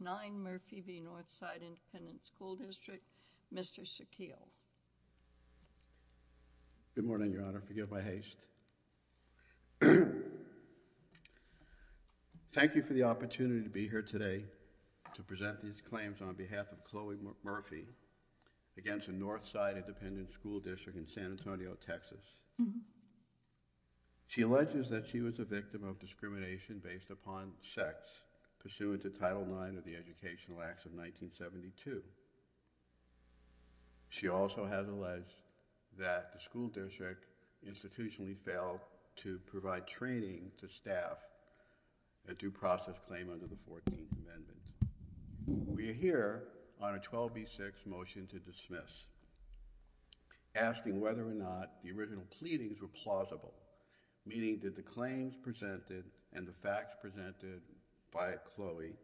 9 Murphy v. Northside Independent School District, Mr. Shaquille. Good morning, Your Honor. Forgive my haste. Thank you for the opportunity to be here today to present these claims on behalf of Chloe Murphy against the Northside Independent School District in San Antonio, Texas. She alleges that she was a victim of discrimination based upon sex pursuant to Title IX of the Educational Acts of 1972. She also has alleged that the school district institutionally failed to provide training to staff a due process claim under the Fourteenth Amendment. We are here on a 12B6 motion to dismiss, asking whether or not the original pleadings were plausible, meaning that the claims presented and the by Chloe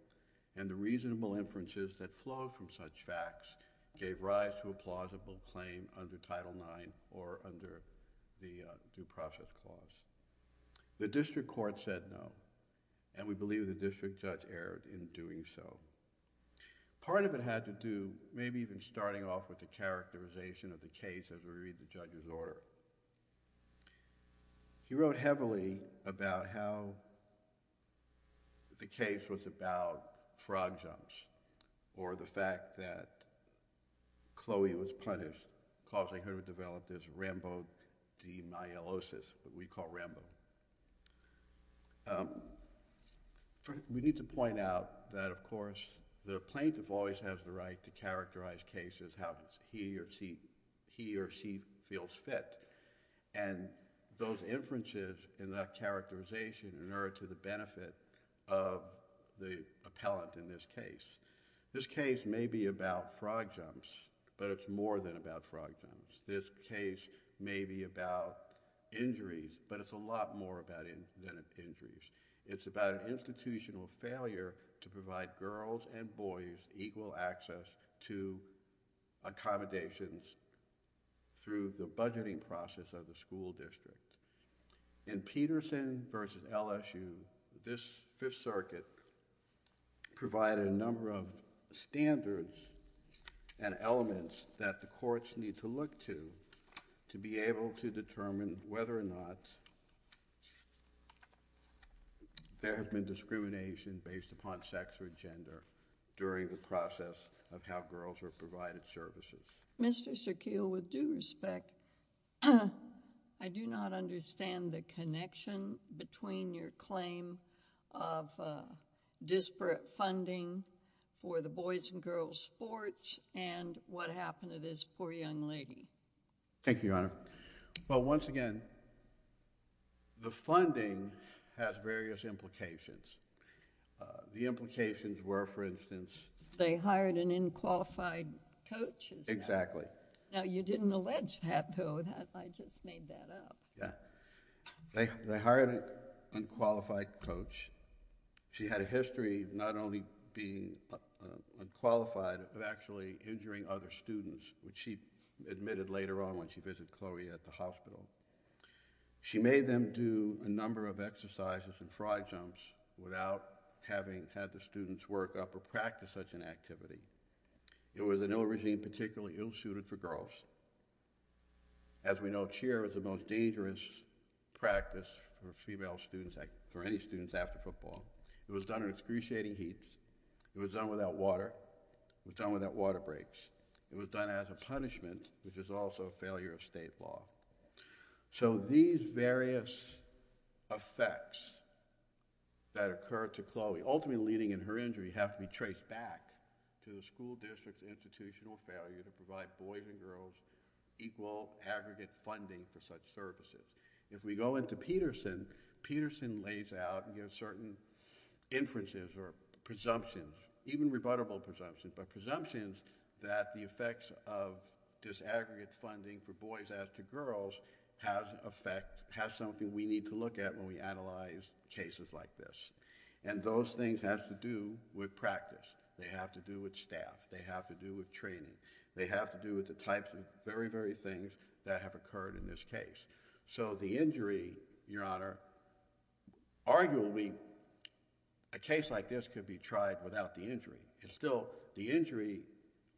and the reasonable inferences that flowed from such facts gave rise to a plausible claim under Title IX or under the due process clause. The district court said no, and we believe the district judge erred in doing so. Part of it had to do, maybe even starting off with the characterization of the case as we read the judge's order. He wrote heavily about how the case was about frog jumps or the fact that Chloe was punished, causing her to develop this rambodenialosis, what we call rambo. We need to point out that, of course, the plaintiff always has the right to characterize cases how he or she feels fit, and those inferences and that characterization in order to the benefit of the appellant in this case. This case may be about frog jumps, but it's more than about frog jumps. This case may be about injuries, but it's a lot more than injuries. It's about institutional failure to provide girls and boys equal access to accommodations through the budgeting process of the school district. In Peterson versus LSU, this Fifth Circuit provided a number of standards and elements that the courts need to look to to be able to determine whether or not there has been discrimination based upon sex or gender during the process of how girls are provided services. Mr. Shaquille, with due respect, I do not understand the connection between your claim of disparate funding for the boys and girls sports and what happened to this poor young lady. Thank you, Your Honor. Well, once again, the funding has various implications. The implications were, for instance, They hired an unqualified coach. Exactly. Now, you didn't allege that, though. I just made that up. Yeah. They hired an unqualified coach. She had a history of not only being unqualified, but actually injuring other students, which she admitted later on when she visited Chloe at the hospital. She made them do a number of exercises and frog jumps without having had the students work up or practice such an activity. It was an ill regime, particularly ill-suited for girls. As we know, cheer is the most dangerous practice for female students, for any students after football. It was done in excruciating heat. It was done without water. It was done without water breaks. It was done as a punishment, which is also a failure of state law. So these various effects that occurred to Chloe, ultimately leading in her injury, have to be traced back to the school district's institutional failure to provide boys and girls equal aggregate funding for such services. If we go into Peterson, Peterson lays out certain inferences or presumptions, even rebuttable presumptions, but presumptions that the effects of disaggregate funding for boys as to girls have something we need to look at when we analyze cases like this. Those things have to do with practice. They have to do with staff. They have to do with training. They have to do with the types of very, very things that have occurred in this case. So the injury, Your Honor, arguably a case like this could be tried without the injury. Still, the injury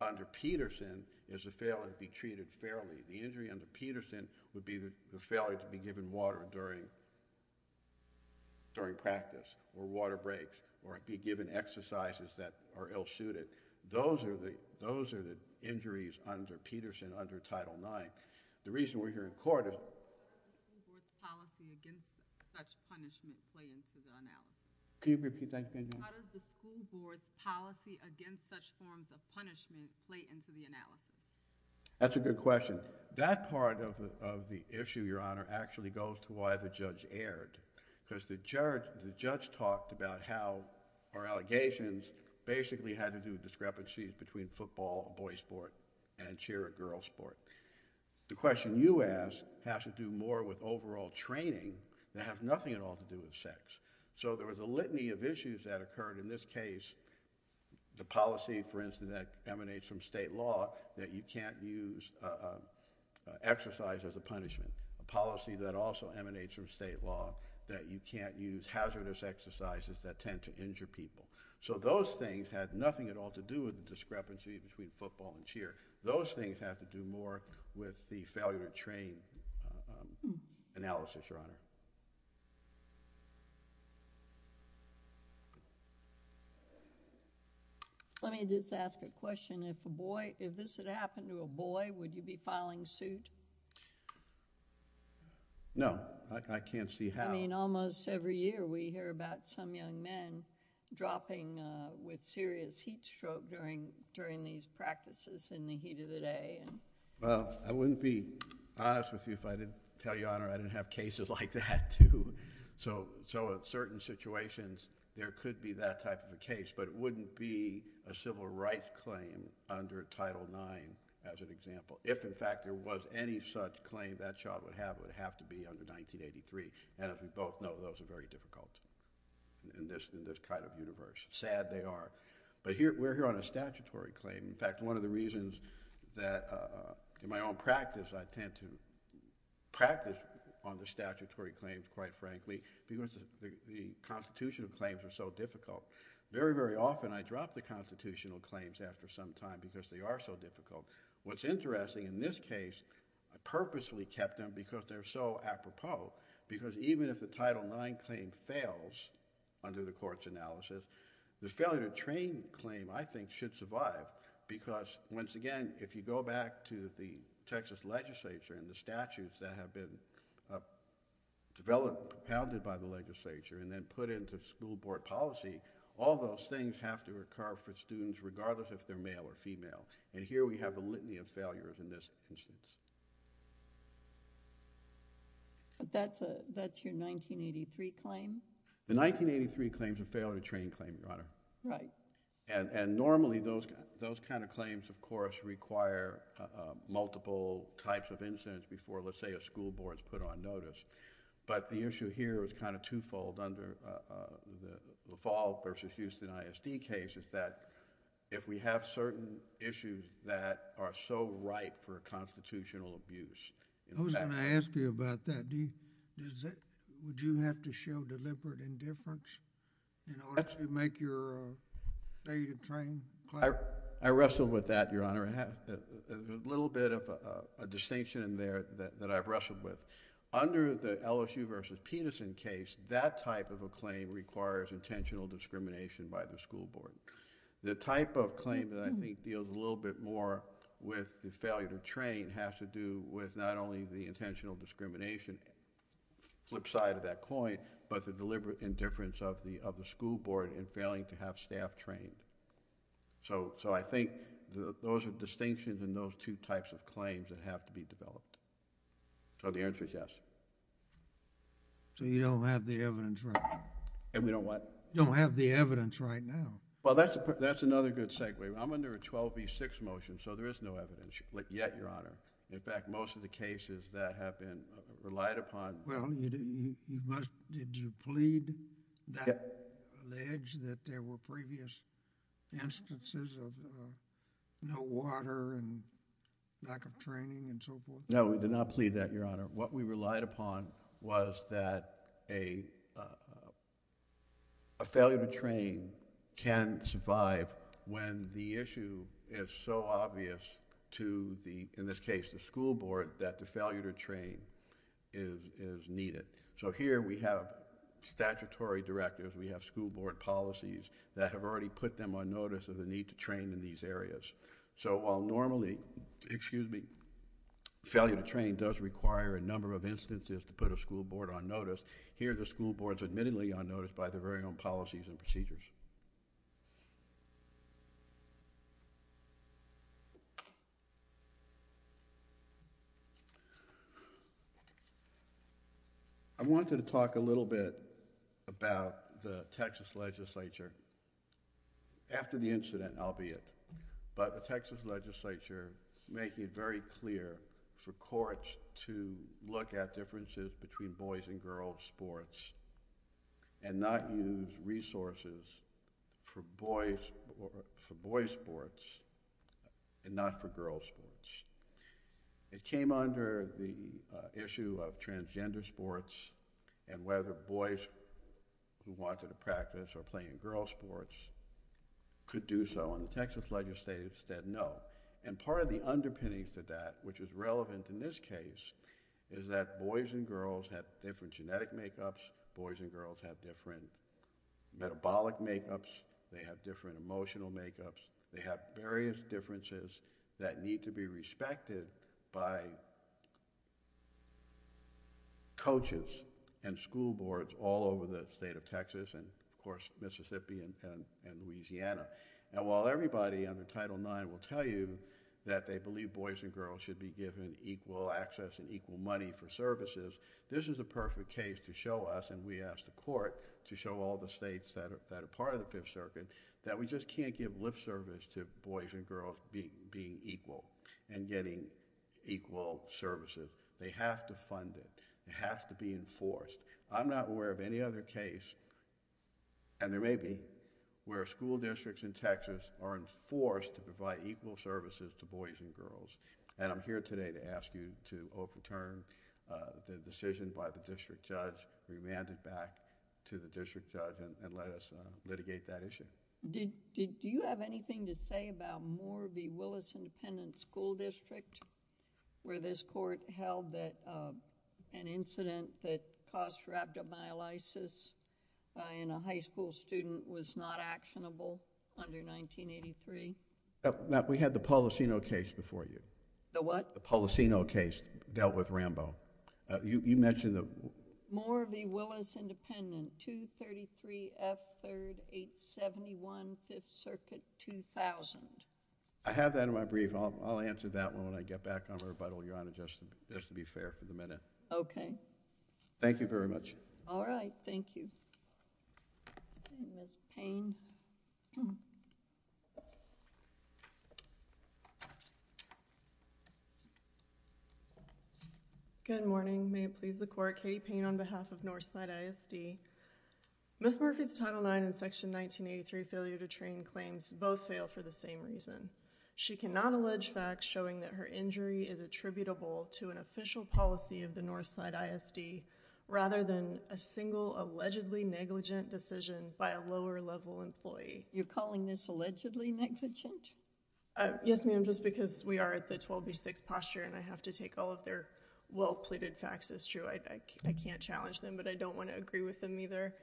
under Peterson is a failure to be treated fairly. The injury under Peterson would be the failure to be given water during practice or water breaks or be given exercises that are ill-suited. Those are the injuries under Peterson, under Title IX. The reason we're here in court is... How does the school board's policy against such forms of punishment play into the analysis? That's a good question. That part of the issue, Your Honor, actually goes to why the judge erred, because the judge talked about how our allegations basically had to do with discrepancies between football, a boy's sport, and cheer, a girl's sport. The question you ask has to do more with overall training that has nothing at all to do with sex. So there was a litany of issues that occurred in this case. The policy, for instance, that emanates from state law that you can't use exercise as a punishment, a policy that also emanates from state law that you can't use hazardous exercises that tend to injure people. So those things had nothing at all to do with the discrepancy between football and cheer. Those things have to do more with the failure to train analysis, Your Honor. Let me just ask a question. If this had happened to a boy, would you be filing suit? No. I can't see how. I mean, almost every year we hear about some young men dropping with serious heat stroke during these practices in the heat of the day. Well, I wouldn't be honest with you if I didn't tell you, Your Honor, I didn't have cases like that, too. So in certain situations there could be that type of a case, but it wouldn't be a civil rights claim under Title IX, as an example. If, in fact, there was any such claim that child would have, it would have to be under 1983. And as we both know, those are very difficult in this kind of universe. Sad they are. But we're here on a statutory claim. In fact, one of the reasons that in my own practice I tend to practice on the statutory claims, quite frankly, because the constitutional claims are so difficult. Very, very often I drop the constitutional claims after some time because they are so difficult. What's interesting in this case, I purposely kept them because they're so apropos. Because even if the Title IX claim fails under the court's analysis, the failure to train claim, I think, should survive. Because, once again, if you go back to the Texas legislature and the statutes that have been developed, propounded by the legislature, and then put into school board policy, all those things have to occur for students regardless if they're male or female. And here we have a litany of failures in this instance. That's your 1983 claim? The 1983 claims are failure to train claim, Your Honor. Right. And normally those kind of claims, of course, require multiple types of incidents before, let's say, a school board is put on notice. But the issue here is kind of twofold under the LaFalle v. Houston ISD case is that if we have certain issues that are so ripe for constitutional abuse... I was going to ask you about that. Would you have to show deliberate indifference in order to make your failure to train claim? I wrestled with that, Your Honor. There's a little bit of a distinction in there that I've wrestled with. Under the LSU v. Peterson case, that type of a claim requires intentional discrimination by the school board. The type of claim that I think deals a little bit more with the failure to train has to do with not only the intentional discrimination flipside of that coin, but the deliberate indifference of the school board in failing to have staff trained. So I think those are distinctions in those two types of claims that have to be developed. So the answer is yes. So you don't have the evidence right now? We don't what? You don't have the evidence right now. Well, that's another good segue. I'm under a 12 v. 6 motion, so there is no evidence yet, Your Honor. In fact, most of the cases that have been relied upon... Well, you must... Did you plead that, allege that there were previous instances of no water and lack of training and so forth? No, we did not plead that, Your Honor. What we relied upon was that a failure to train can survive when the issue is so obvious to the, in this case, the school board, that the failure to train is needed. So here we have statutory directives. We have school board policies that have already put them on notice of the need to train in these areas. So while normally failure to train does require a number of instances to put a school board on notice, here the school board is admittedly on notice by their very own policies and procedures. I wanted to talk a little bit about the Texas Legislature. After the incident, I'll be it, but the Texas Legislature is making it very clear for courts to look at differences between boys' and girls' sports and not use resources for boys' sports and not for girls' sports. It came under the issue of transgender sports and whether boys who wanted to practice or play in girls' sports could do so, and the Texas Legislature said no. And part of the issue is that boys and girls have different genetic make-ups, boys and girls have different metabolic make-ups, they have different emotional make-ups, they have various differences that need to be respected by coaches and school boards all over the state of Texas and, of course, Mississippi and Louisiana. And while everybody under Title IX will tell you that they believe boys and girls should be given equal access and equal money for services, this is a perfect case to show us, and we asked the court to show all the states that are part of the Fifth Circuit, that we just can't give lip service to boys and girls being equal and getting equal services. They have to fund it, it has to be enforced. I'm not aware of any other case, and there may be, where school districts in Texas are enforced to provide equal services to boys and girls. And I'm here today to ask you to overturn the decision by the district judge, remand it back to the district judge and let us litigate that issue. Do you have anything to say about Moorby-Willis Independent School District, where this court held that an incident that caused rhabdomyolysis in a high school student was not actionable under 1983? Ma'am, we had the Policino case before you. The what? The Policino case dealt with Rambo. You mentioned the... Moorby-Willis Independent, 233 F. 3rd, 871 Fifth Circuit, 2000. I have that in my brief. I'll answer that when I get back on rebuttal, Your Honor, just to be fair for the minute. Okay. Thank you very much. All right. Thank you. Ms. Payne. Good morning. May it please the Court, Katie Payne on behalf of Northside ISD. Ms. Murphy's Title IX and Section 1983 failure to train claims both fail for the same reason. She cannot allege facts showing that her injury is attributable to an official policy of the a single allegedly negligent decision by a lower-level employee. You're calling this allegedly negligent? Yes, ma'am, just because we are at the 12B6 posture and I have to take all of their well-pleaded facts as true. I can't challenge them, but I don't want to agree with them either.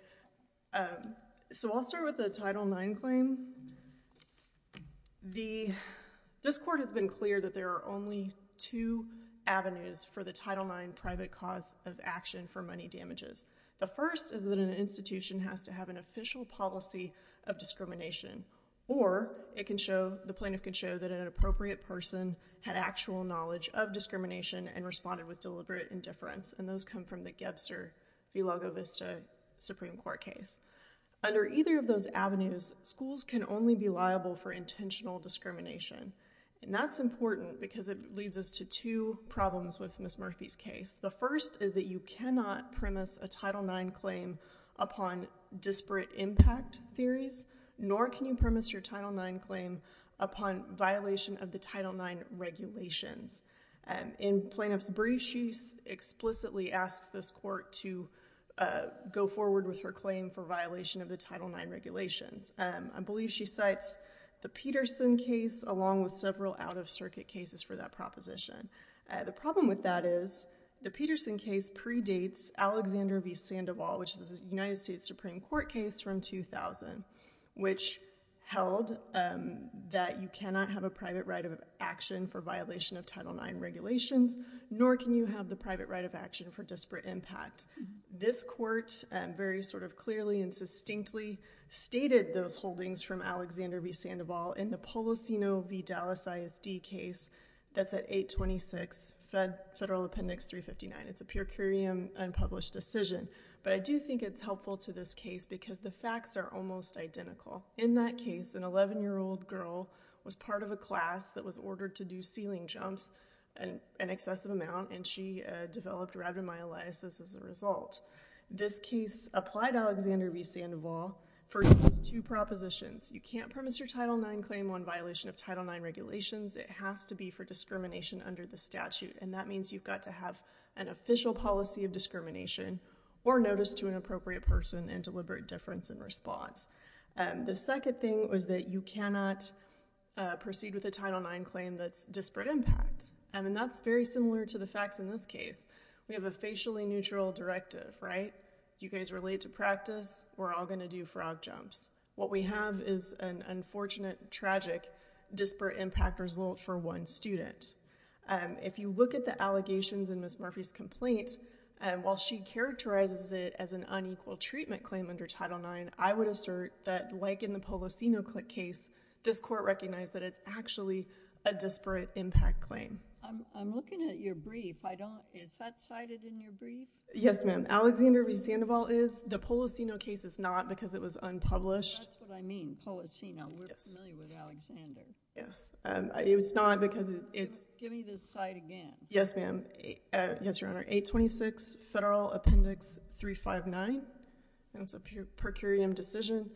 So I'll start with the Title IX claim. This court has been clear that there are only two policy images. The first is that an institution has to have an official policy of discrimination or it can show, the plaintiff can show that an inappropriate person had actual knowledge of discrimination and responded with deliberate indifference, and those come from the Gebster v. Lago Vista Supreme Court case. Under either of those avenues, schools can only be liable for intentional discrimination, and that's important because it leads us to two problems with Ms. Murphy's case. The first is that you cannot premise a Title IX claim upon disparate impact theories, nor can you premise your Title IX claim upon violation of the Title IX regulations. In Plaintiff's brief, she explicitly asks this court to go forward with her claim for violation of the Title IX regulations. I believe she cites the Peterson case along with several out-of-circuit cases for that proposition. The problem with that is the Peterson case predates Alexander v. Sandoval, which is a United States Supreme Court case from 2000, which held that you cannot have a private right of action for violation of Title IX regulations, nor can you have the private right of action for disparate impact. This court very sort of clearly and that's at 826 Federal Appendix 359. It's a purcurium unpublished decision, but I do think it's helpful to this case because the facts are almost identical. In that case, an 11-year-old girl was part of a class that was ordered to do ceiling jumps, an excessive amount, and she developed rhabdomyolysis as a result. This case applied Alexander v. Sandoval for at least two propositions. You can't premise your Title IX claim on violation of Title IX regulations. It has to be for discrimination under the statute, and that means you've got to have an official policy of discrimination or notice to an appropriate person and deliberate difference in response. The second thing was that you cannot proceed with a Title IX claim that's disparate impact, and that's very similar to the facts in this case. We have a facially neutral directive, right? You guys relate to practice. We're all going to do frog jumps. What we have is an unfortunate, tragic disparate impact result for one student. If you look at the allegations in Ms. Murphy's complaint, while she characterizes it as an unequal treatment claim under Title IX, I would assert that, like in the Polosino case, this Court recognized that it's actually a disparate impact claim. I'm looking at your brief. Is that cited in your brief? Yes, ma'am. Alexander v. Sandoval is. The Polosino case is not because it was unpublished. That's what I mean, Polosino. We're familiar with Alexander. Yes. It's not because it's— Give me this cite again. Yes, ma'am. Yes, Your Honor. 826 Federal Appendix 359. That's a per curiam decision.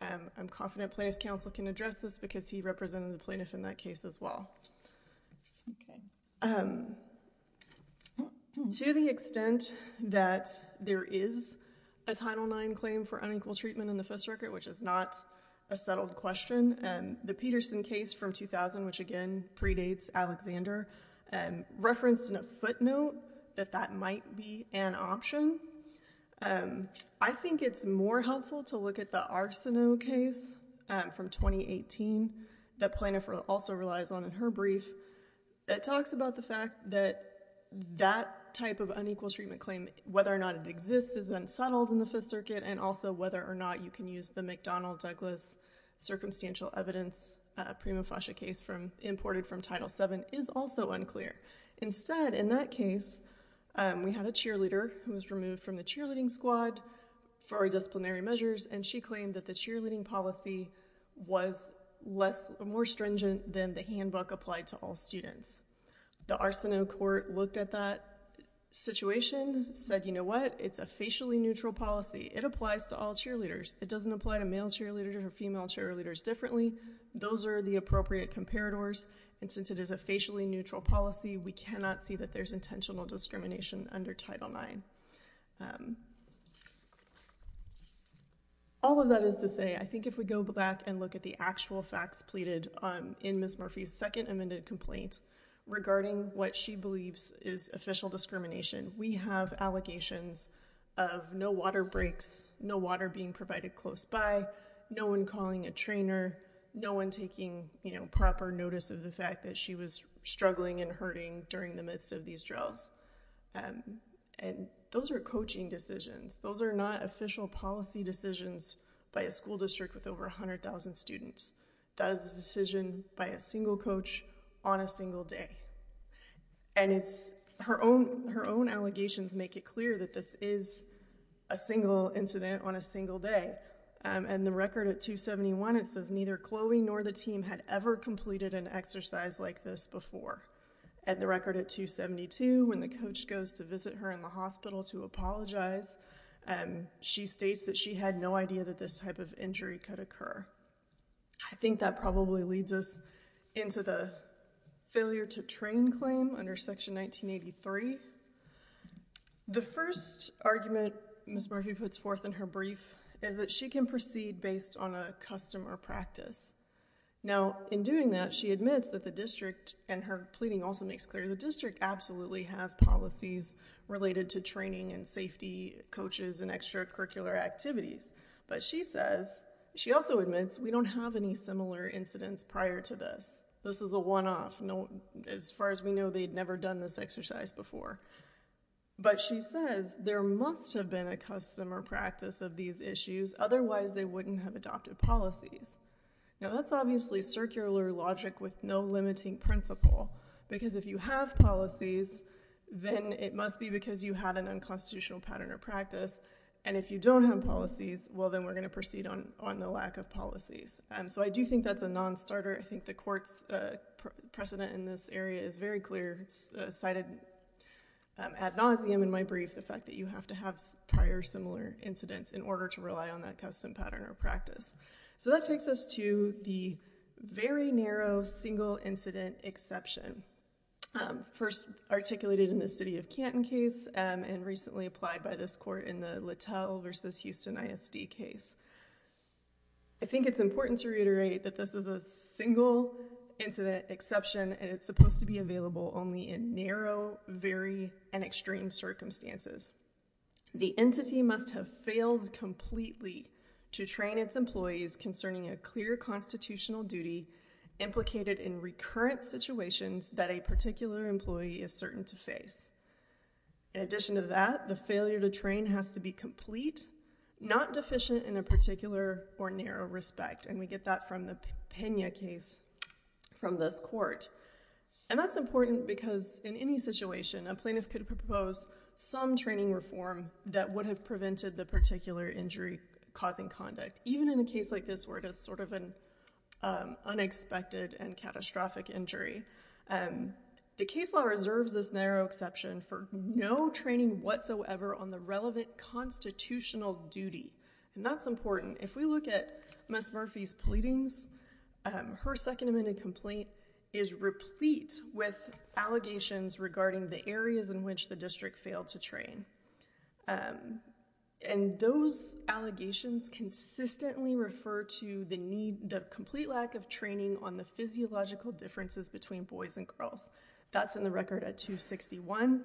I'm confident Plaintiff's Counsel can address this because he represented the plaintiff in that case as well. Okay. To the extent that there is a Title IX claim for unequal treatment in the first record, which is not a settled question, the Peterson case from 2000, which again predates Alexander, referenced in a footnote that that might be an option. I think it's more helpful to look at the Arsinoe case from 2018 that Plaintiff also relies on in her brief. It talks about the fact that that type of unequal treatment claim, whether or not it exists, is unsettled in the Fifth Circuit, and also whether or not you can use the McDonnell-Douglas circumstantial evidence prima facie case imported from Title VII is also unclear. Instead, in that case, we had a cheerleader who was removed from the cheerleading squad for our disciplinary measures, and she claimed that the cheerleading policy was more stringent than the handbook applied to all students. The Arsinoe court looked at that situation, said you know what? It's a facially neutral policy. It applies to all cheerleaders. It doesn't apply to male cheerleaders or female cheerleaders differently. Those are the appropriate comparators, and since it is a facially neutral policy, we cannot see that there's intentional discrimination under Title IX. All of that is to say, I think if we go back and look at the actual facts pleaded in Ms. Murphy's second amended complaint regarding what she believes is official discrimination, we have allegations of no water breaks, no water being provided close by, no one calling a trainer, no one taking proper notice of the fact that she was struggling and hurting during the midst of these drills, and those are coaching decisions. Those are not official policy decisions by a school district with over 100,000 students. That is a decision by a single coach on a single day, and it's her own allegations make it clear that this is a single incident on a single day, and the record at 271, it says neither Chloe nor the team had ever completed an exercise like this before. At the record at 272, when the coach goes to visit her in the hospital to apologize, she states that she had no idea that this type of injury could occur. I think that probably leads us into the failure to train claim under Section 1983. The first argument Ms. Murphy puts forth in her brief is that she can proceed based on a custom or practice. Now, in doing that, she admits that the district, and her pleading also makes clear, the district absolutely has policies related to training and safety coaches and extracurricular activities, but she says, she also admits we don't have any similar incidents prior to this. This is a one-off. As far as we know, they had never done this exercise before, but she says there must have been a custom or practice of these issues, otherwise they wouldn't have adopted policies. Now, that's obviously circular logic with no limiting principle, because if you have policies, then it must be because you had an unconstitutional pattern or practice, and if you don't have policies, well, then we're going to proceed on the lack of policies. So I do think that's a non-starter. I think the court's precedent in this area is very clear. It's cited ad nauseum in my brief, the fact that you have to have prior similar incidents in order to rely on that custom pattern or practice. So that takes us to the very narrow single incident exception, first articulated in the city of Canton case and recently applied by this court in the Littell v. Houston ISD case. I think it's important to reiterate that this is a single incident exception, and it's supposed to be available only in narrow, very, and extreme circumstances. The entity must have failed completely to train its employees concerning a clear constitutional duty implicated in recurrent situations that a particular employee is certain to face. In addition to that, the failure to train has to be complete, not deficient in a particular or narrow respect, and we get that from the Pena case from this court. And that's important because in any situation, a plaintiff could propose some training reform that would have prevented the particular injury causing conduct, even in a case like this where it is sort of an unexpected and catastrophic injury. The case law reserves this narrow exception for no training whatsoever on the relevant constitutional duty, and that's important. If we look at Ms. Murphy's pleadings, her second amended complaint is replete with allegations regarding the areas in which the district failed to train. And those allegations consistently refer to the need, the complete lack of training on the physiological differences between boys and girls. That's in the record at 261.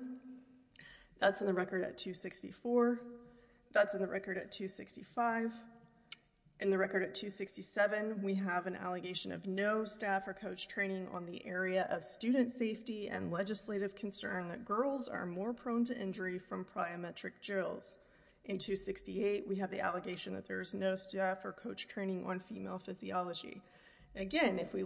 That's in the record at 264. That's in the record at 265. In the record at 267, we have an allegation of no staff or coach training on the area of student safety and legislative concern that girls are more prone to injury from pryometric drills. In 268, we have the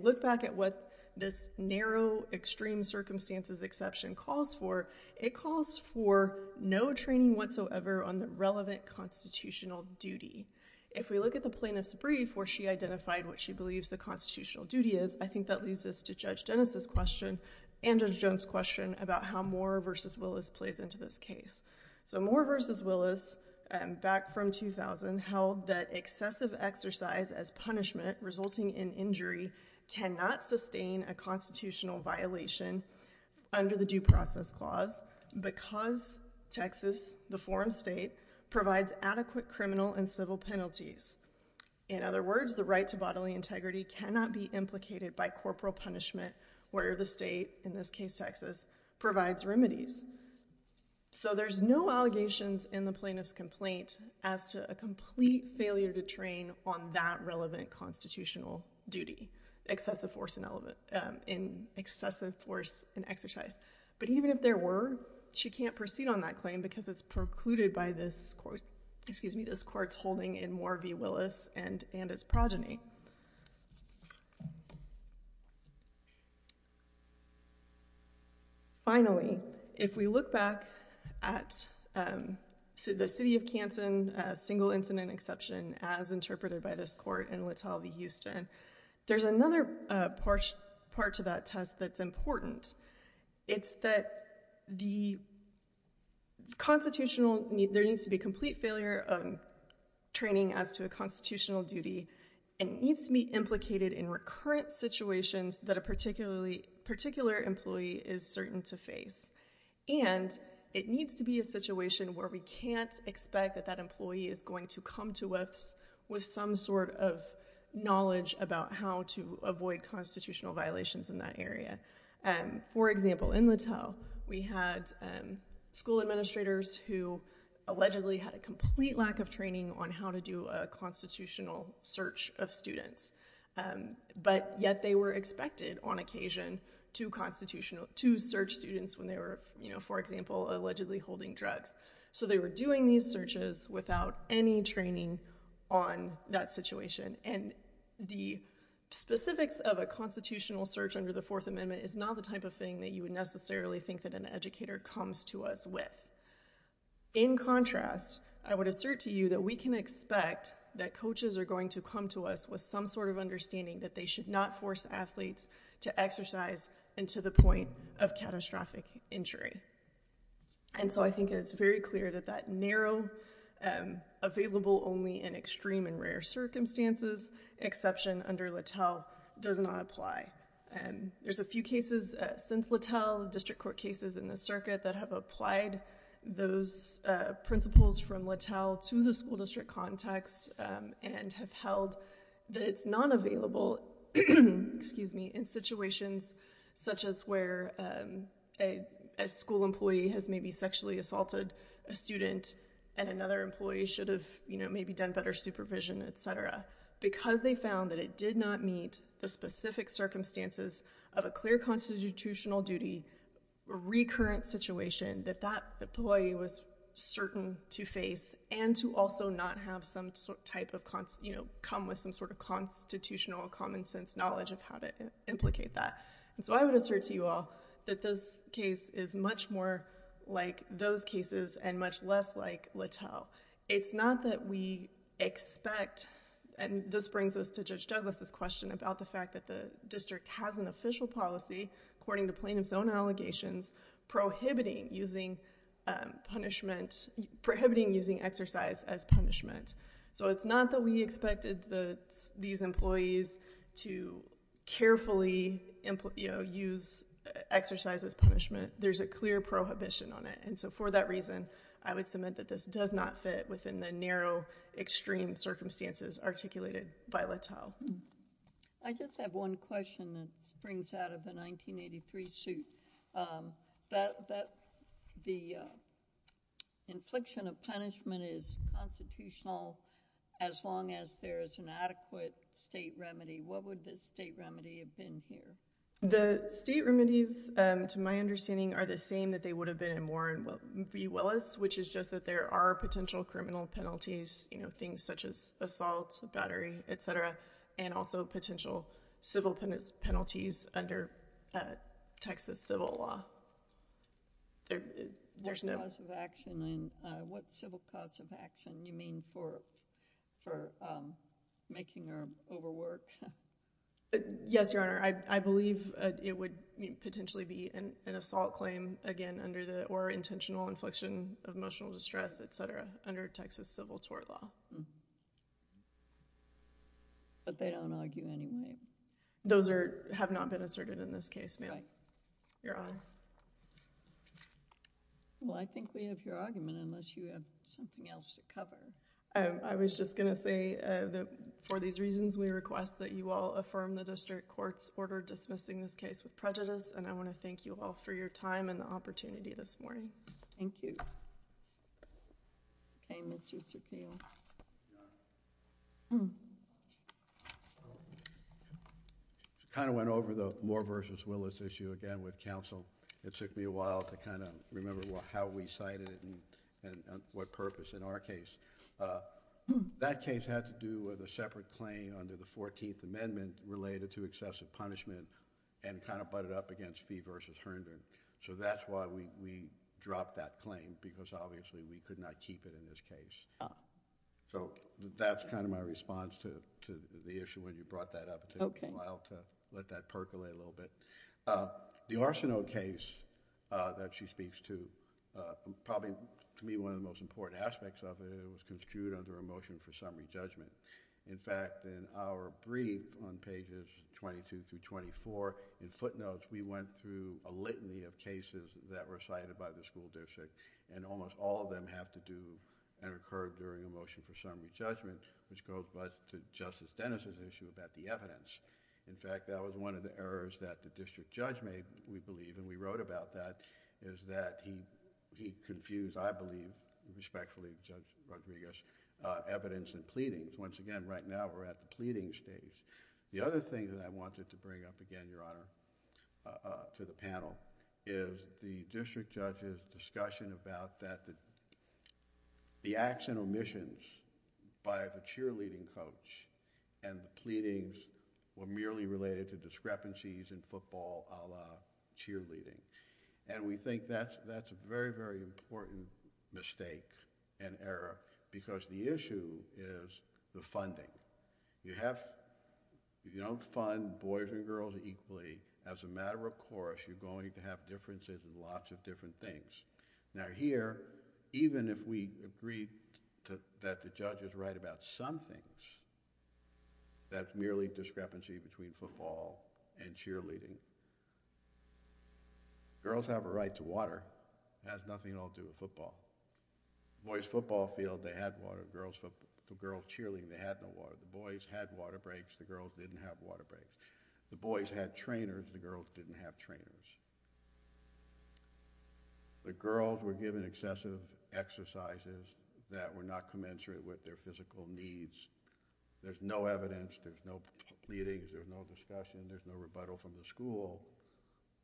look back at what this narrow, extreme circumstances exception calls for, it calls for no training whatsoever on the relevant constitutional duty. If we look at the plaintiff's brief where she identified what she believes the constitutional duty is, I think that leads us to Judge Dennis' question and Judge Jones' question about how Moore v. Willis plays into this case. So Moore v. Willis, back from 2000, held that excessive exercise as punishment resulting in injury cannot sustain a constitutional violation under the Due Process Clause because Texas, the forum state, provides adequate criminal and civil penalties. In other words, the right to bodily integrity cannot be implicated by corporal punishment where the state, in this case Texas, provides remedies. So there's no allegations in the plaintiff's complaint as to a complete failure to train on that relevant constitutional duty, excessive force in exercise. But even if there were, she can't proceed on that claim because it's precluded by this court's holding in Moore v. Willis and its progeny. Finally, if we look back at the City of Canton single incident exception as interpreted by this court in Letel v. Houston, there's another part to that test that's important. It's that the constitutional, there needs to be complete failure of training as to a constitutional duty and it needs to be implicated in recurrent situations that a particular employee is certain to face. And it needs to be a situation where we can't expect that that employee is going to come to us with some sort of knowledge about how to avoid constitutional violations in that area. For example, in Letel, we had school administrators who allegedly had a constitutional search of students. But yet they were expected on occasion to search students when they were, for example, allegedly holding drugs. So they were doing these searches without any training on that situation. And the specifics of a constitutional search under the Fourth Amendment is not the type of thing that you would necessarily think that an educator comes to us with. In contrast, I would assert to you that we can expect that coaches are going to come to us with some sort of understanding that they should not force athletes to exercise until the point of catastrophic injury. And so I think it's very clear that that narrow available only in extreme and rare circumstances exception under Letel does not apply. There's a few cases since Letel, district court cases in the circuit that have applied those principles from Letel to the school district context and have held that it's not available in situations such as where a school employee has maybe sexually assaulted a student and another employee should have maybe done better supervision, etc. Because they found that it did not meet the specific circumstances of a clear constitutional duty recurrent situation that that employee was certain to face and to also not have some type of, come with some sort of constitutional common sense knowledge of how to implicate that. And so I would assert to you all that this case is much more like those cases and much less like Letel. It's not that we expect, and this brings us to Judge Douglas' question about the fact that the district has an official policy according to plaintiff's own allegations prohibiting using exercise as punishment. So it's not that we expected these employees to carefully use exercise as punishment. There's a clear prohibition on it. And so for that reason I would submit that this does not fit within the narrow extreme circumstances articulated by Letel. I just have one question that springs out of the 1983 suit. The infliction of punishment is constitutional as long as there is an adequate state remedy. What would the state remedy have been here? The state remedies, to my understanding, are the same that they would have been in Warren v. Willis, which is just that there are potential criminal penalties, you know, things such as assault, battery, et cetera, and also potential civil penalties under Texas civil law. What civil cause of action do you mean for making her overwork? Yes, Your Honor. I believe it would potentially be an assault claim, again, under the, or intentional infliction of emotional distress, et cetera, under Texas civil tort law. But they don't argue anyway. Those have not been asserted in this case, ma'am. Right. Your Honor. Well, I think we have your argument unless you have something else to cover. I was just going to say that for these reasons, we request that you all affirm the district court's order dismissing this case with prejudice, and I want to thank you all for your time and the opportunity this morning. Thank you. Okay, Mr. Sucneil. I kind of went over the Moore v. Willis issue again with counsel. It took me a while to kind of remember how we cited it and what purpose in our case. That case had to do with a separate claim under the 14th Amendment related to excessive punishment and kind of butted up against Fee v. Herndon. So that's why we dropped that claim, because obviously we could not keep it in this case. So that's kind of my response to the issue when you brought that up. It took me a while to let that percolate a little bit. The Arsenault case that she speaks to, probably to me one of the most important aspects of it, it was construed under a motion for summary judgment. In fact, in our brief on pages 22 through 24, in footnotes, we went through a litany of cases that were cited by the school district, and almost all of them have to do and occur during a motion for summary judgment, which goes back to Justice Dennis' issue about the evidence. In fact, that was one of the issues that the district judge made, we believe, and we wrote about that, is that he confused, I believe, respectfully, Judge Rodriguez, evidence and pleadings. Once again, right now, we're at the pleading stage. The other thing that I wanted to bring up again, Your Honor, to the panel, is the district judge's discussion about the acts and omissions by the cheerleading coach, and the pleadings were merely related to discrepancies in football a la cheerleading. We think that's a very, very important mistake and error, because the issue is the funding. If you don't fund boys and girls equally, as a matter of course, you're going to have differences in lots of different things. Now here, even if we agreed that the judges write about some things, that's merely discrepancy between football and cheerleading. Girls have a right to water. It has nothing at all to do with football. The boys' football field, they had water. The girls' cheerleading, they had no water. The boys had water breaks. The girls didn't have water breaks. The boys had trainers. The girls didn't have trainers. The girls were given excessive exercises that were not commensurate with their physical needs. There's no evidence, there's no pleadings, there's no discussion, there's no rebuttal from the school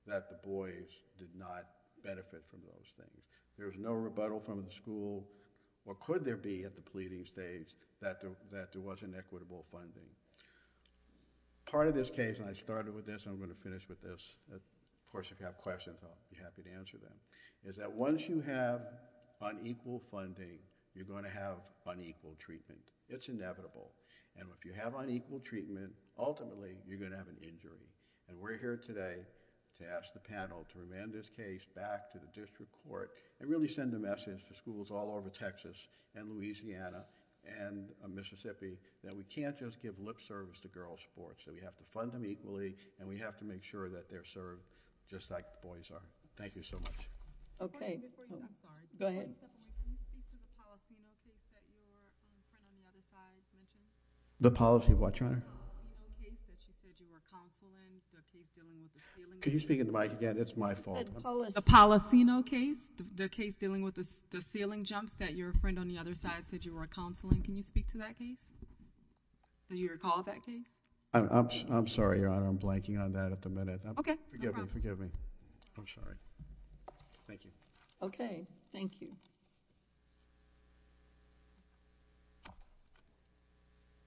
that the boys did not benefit from those things. There's no rebuttal from the school, or could there be at the pleading stage, that there wasn't equitable funding. Part of this case, and I started with this and I'm going to finish with this, of course, if you have questions, I'll be happy to answer them, is that once you have unequal funding, you're going to have unequal treatment. It's inevitable. And if you have unequal treatment, ultimately, you're going to have an injury. And we're here today to ask the panel to remand this case back to the district court and really send a message to schools all over Texas and Louisiana and Mississippi that we can't just give lip service to girls' sports, that we have to fund them equally and we have to make sure that they're served just like the boys are. Thank you so much. Okay. Go ahead. Can you speak to the Policino case that your friend on the other side mentioned? The Policino case that you said you were counseling, the case dealing with the ceiling jumps? Can you speak into the mic again? It's my fault. The Policino case, the case dealing with the ceiling jumps that your friend on the other side said you were counseling. Can you speak to that case? Do you recall that case? I'm sorry, Your Honor. I'm blanking on that at the minute. Okay. No problem. Forgive me. I'm sorry. Thank you. Okay. Thank you.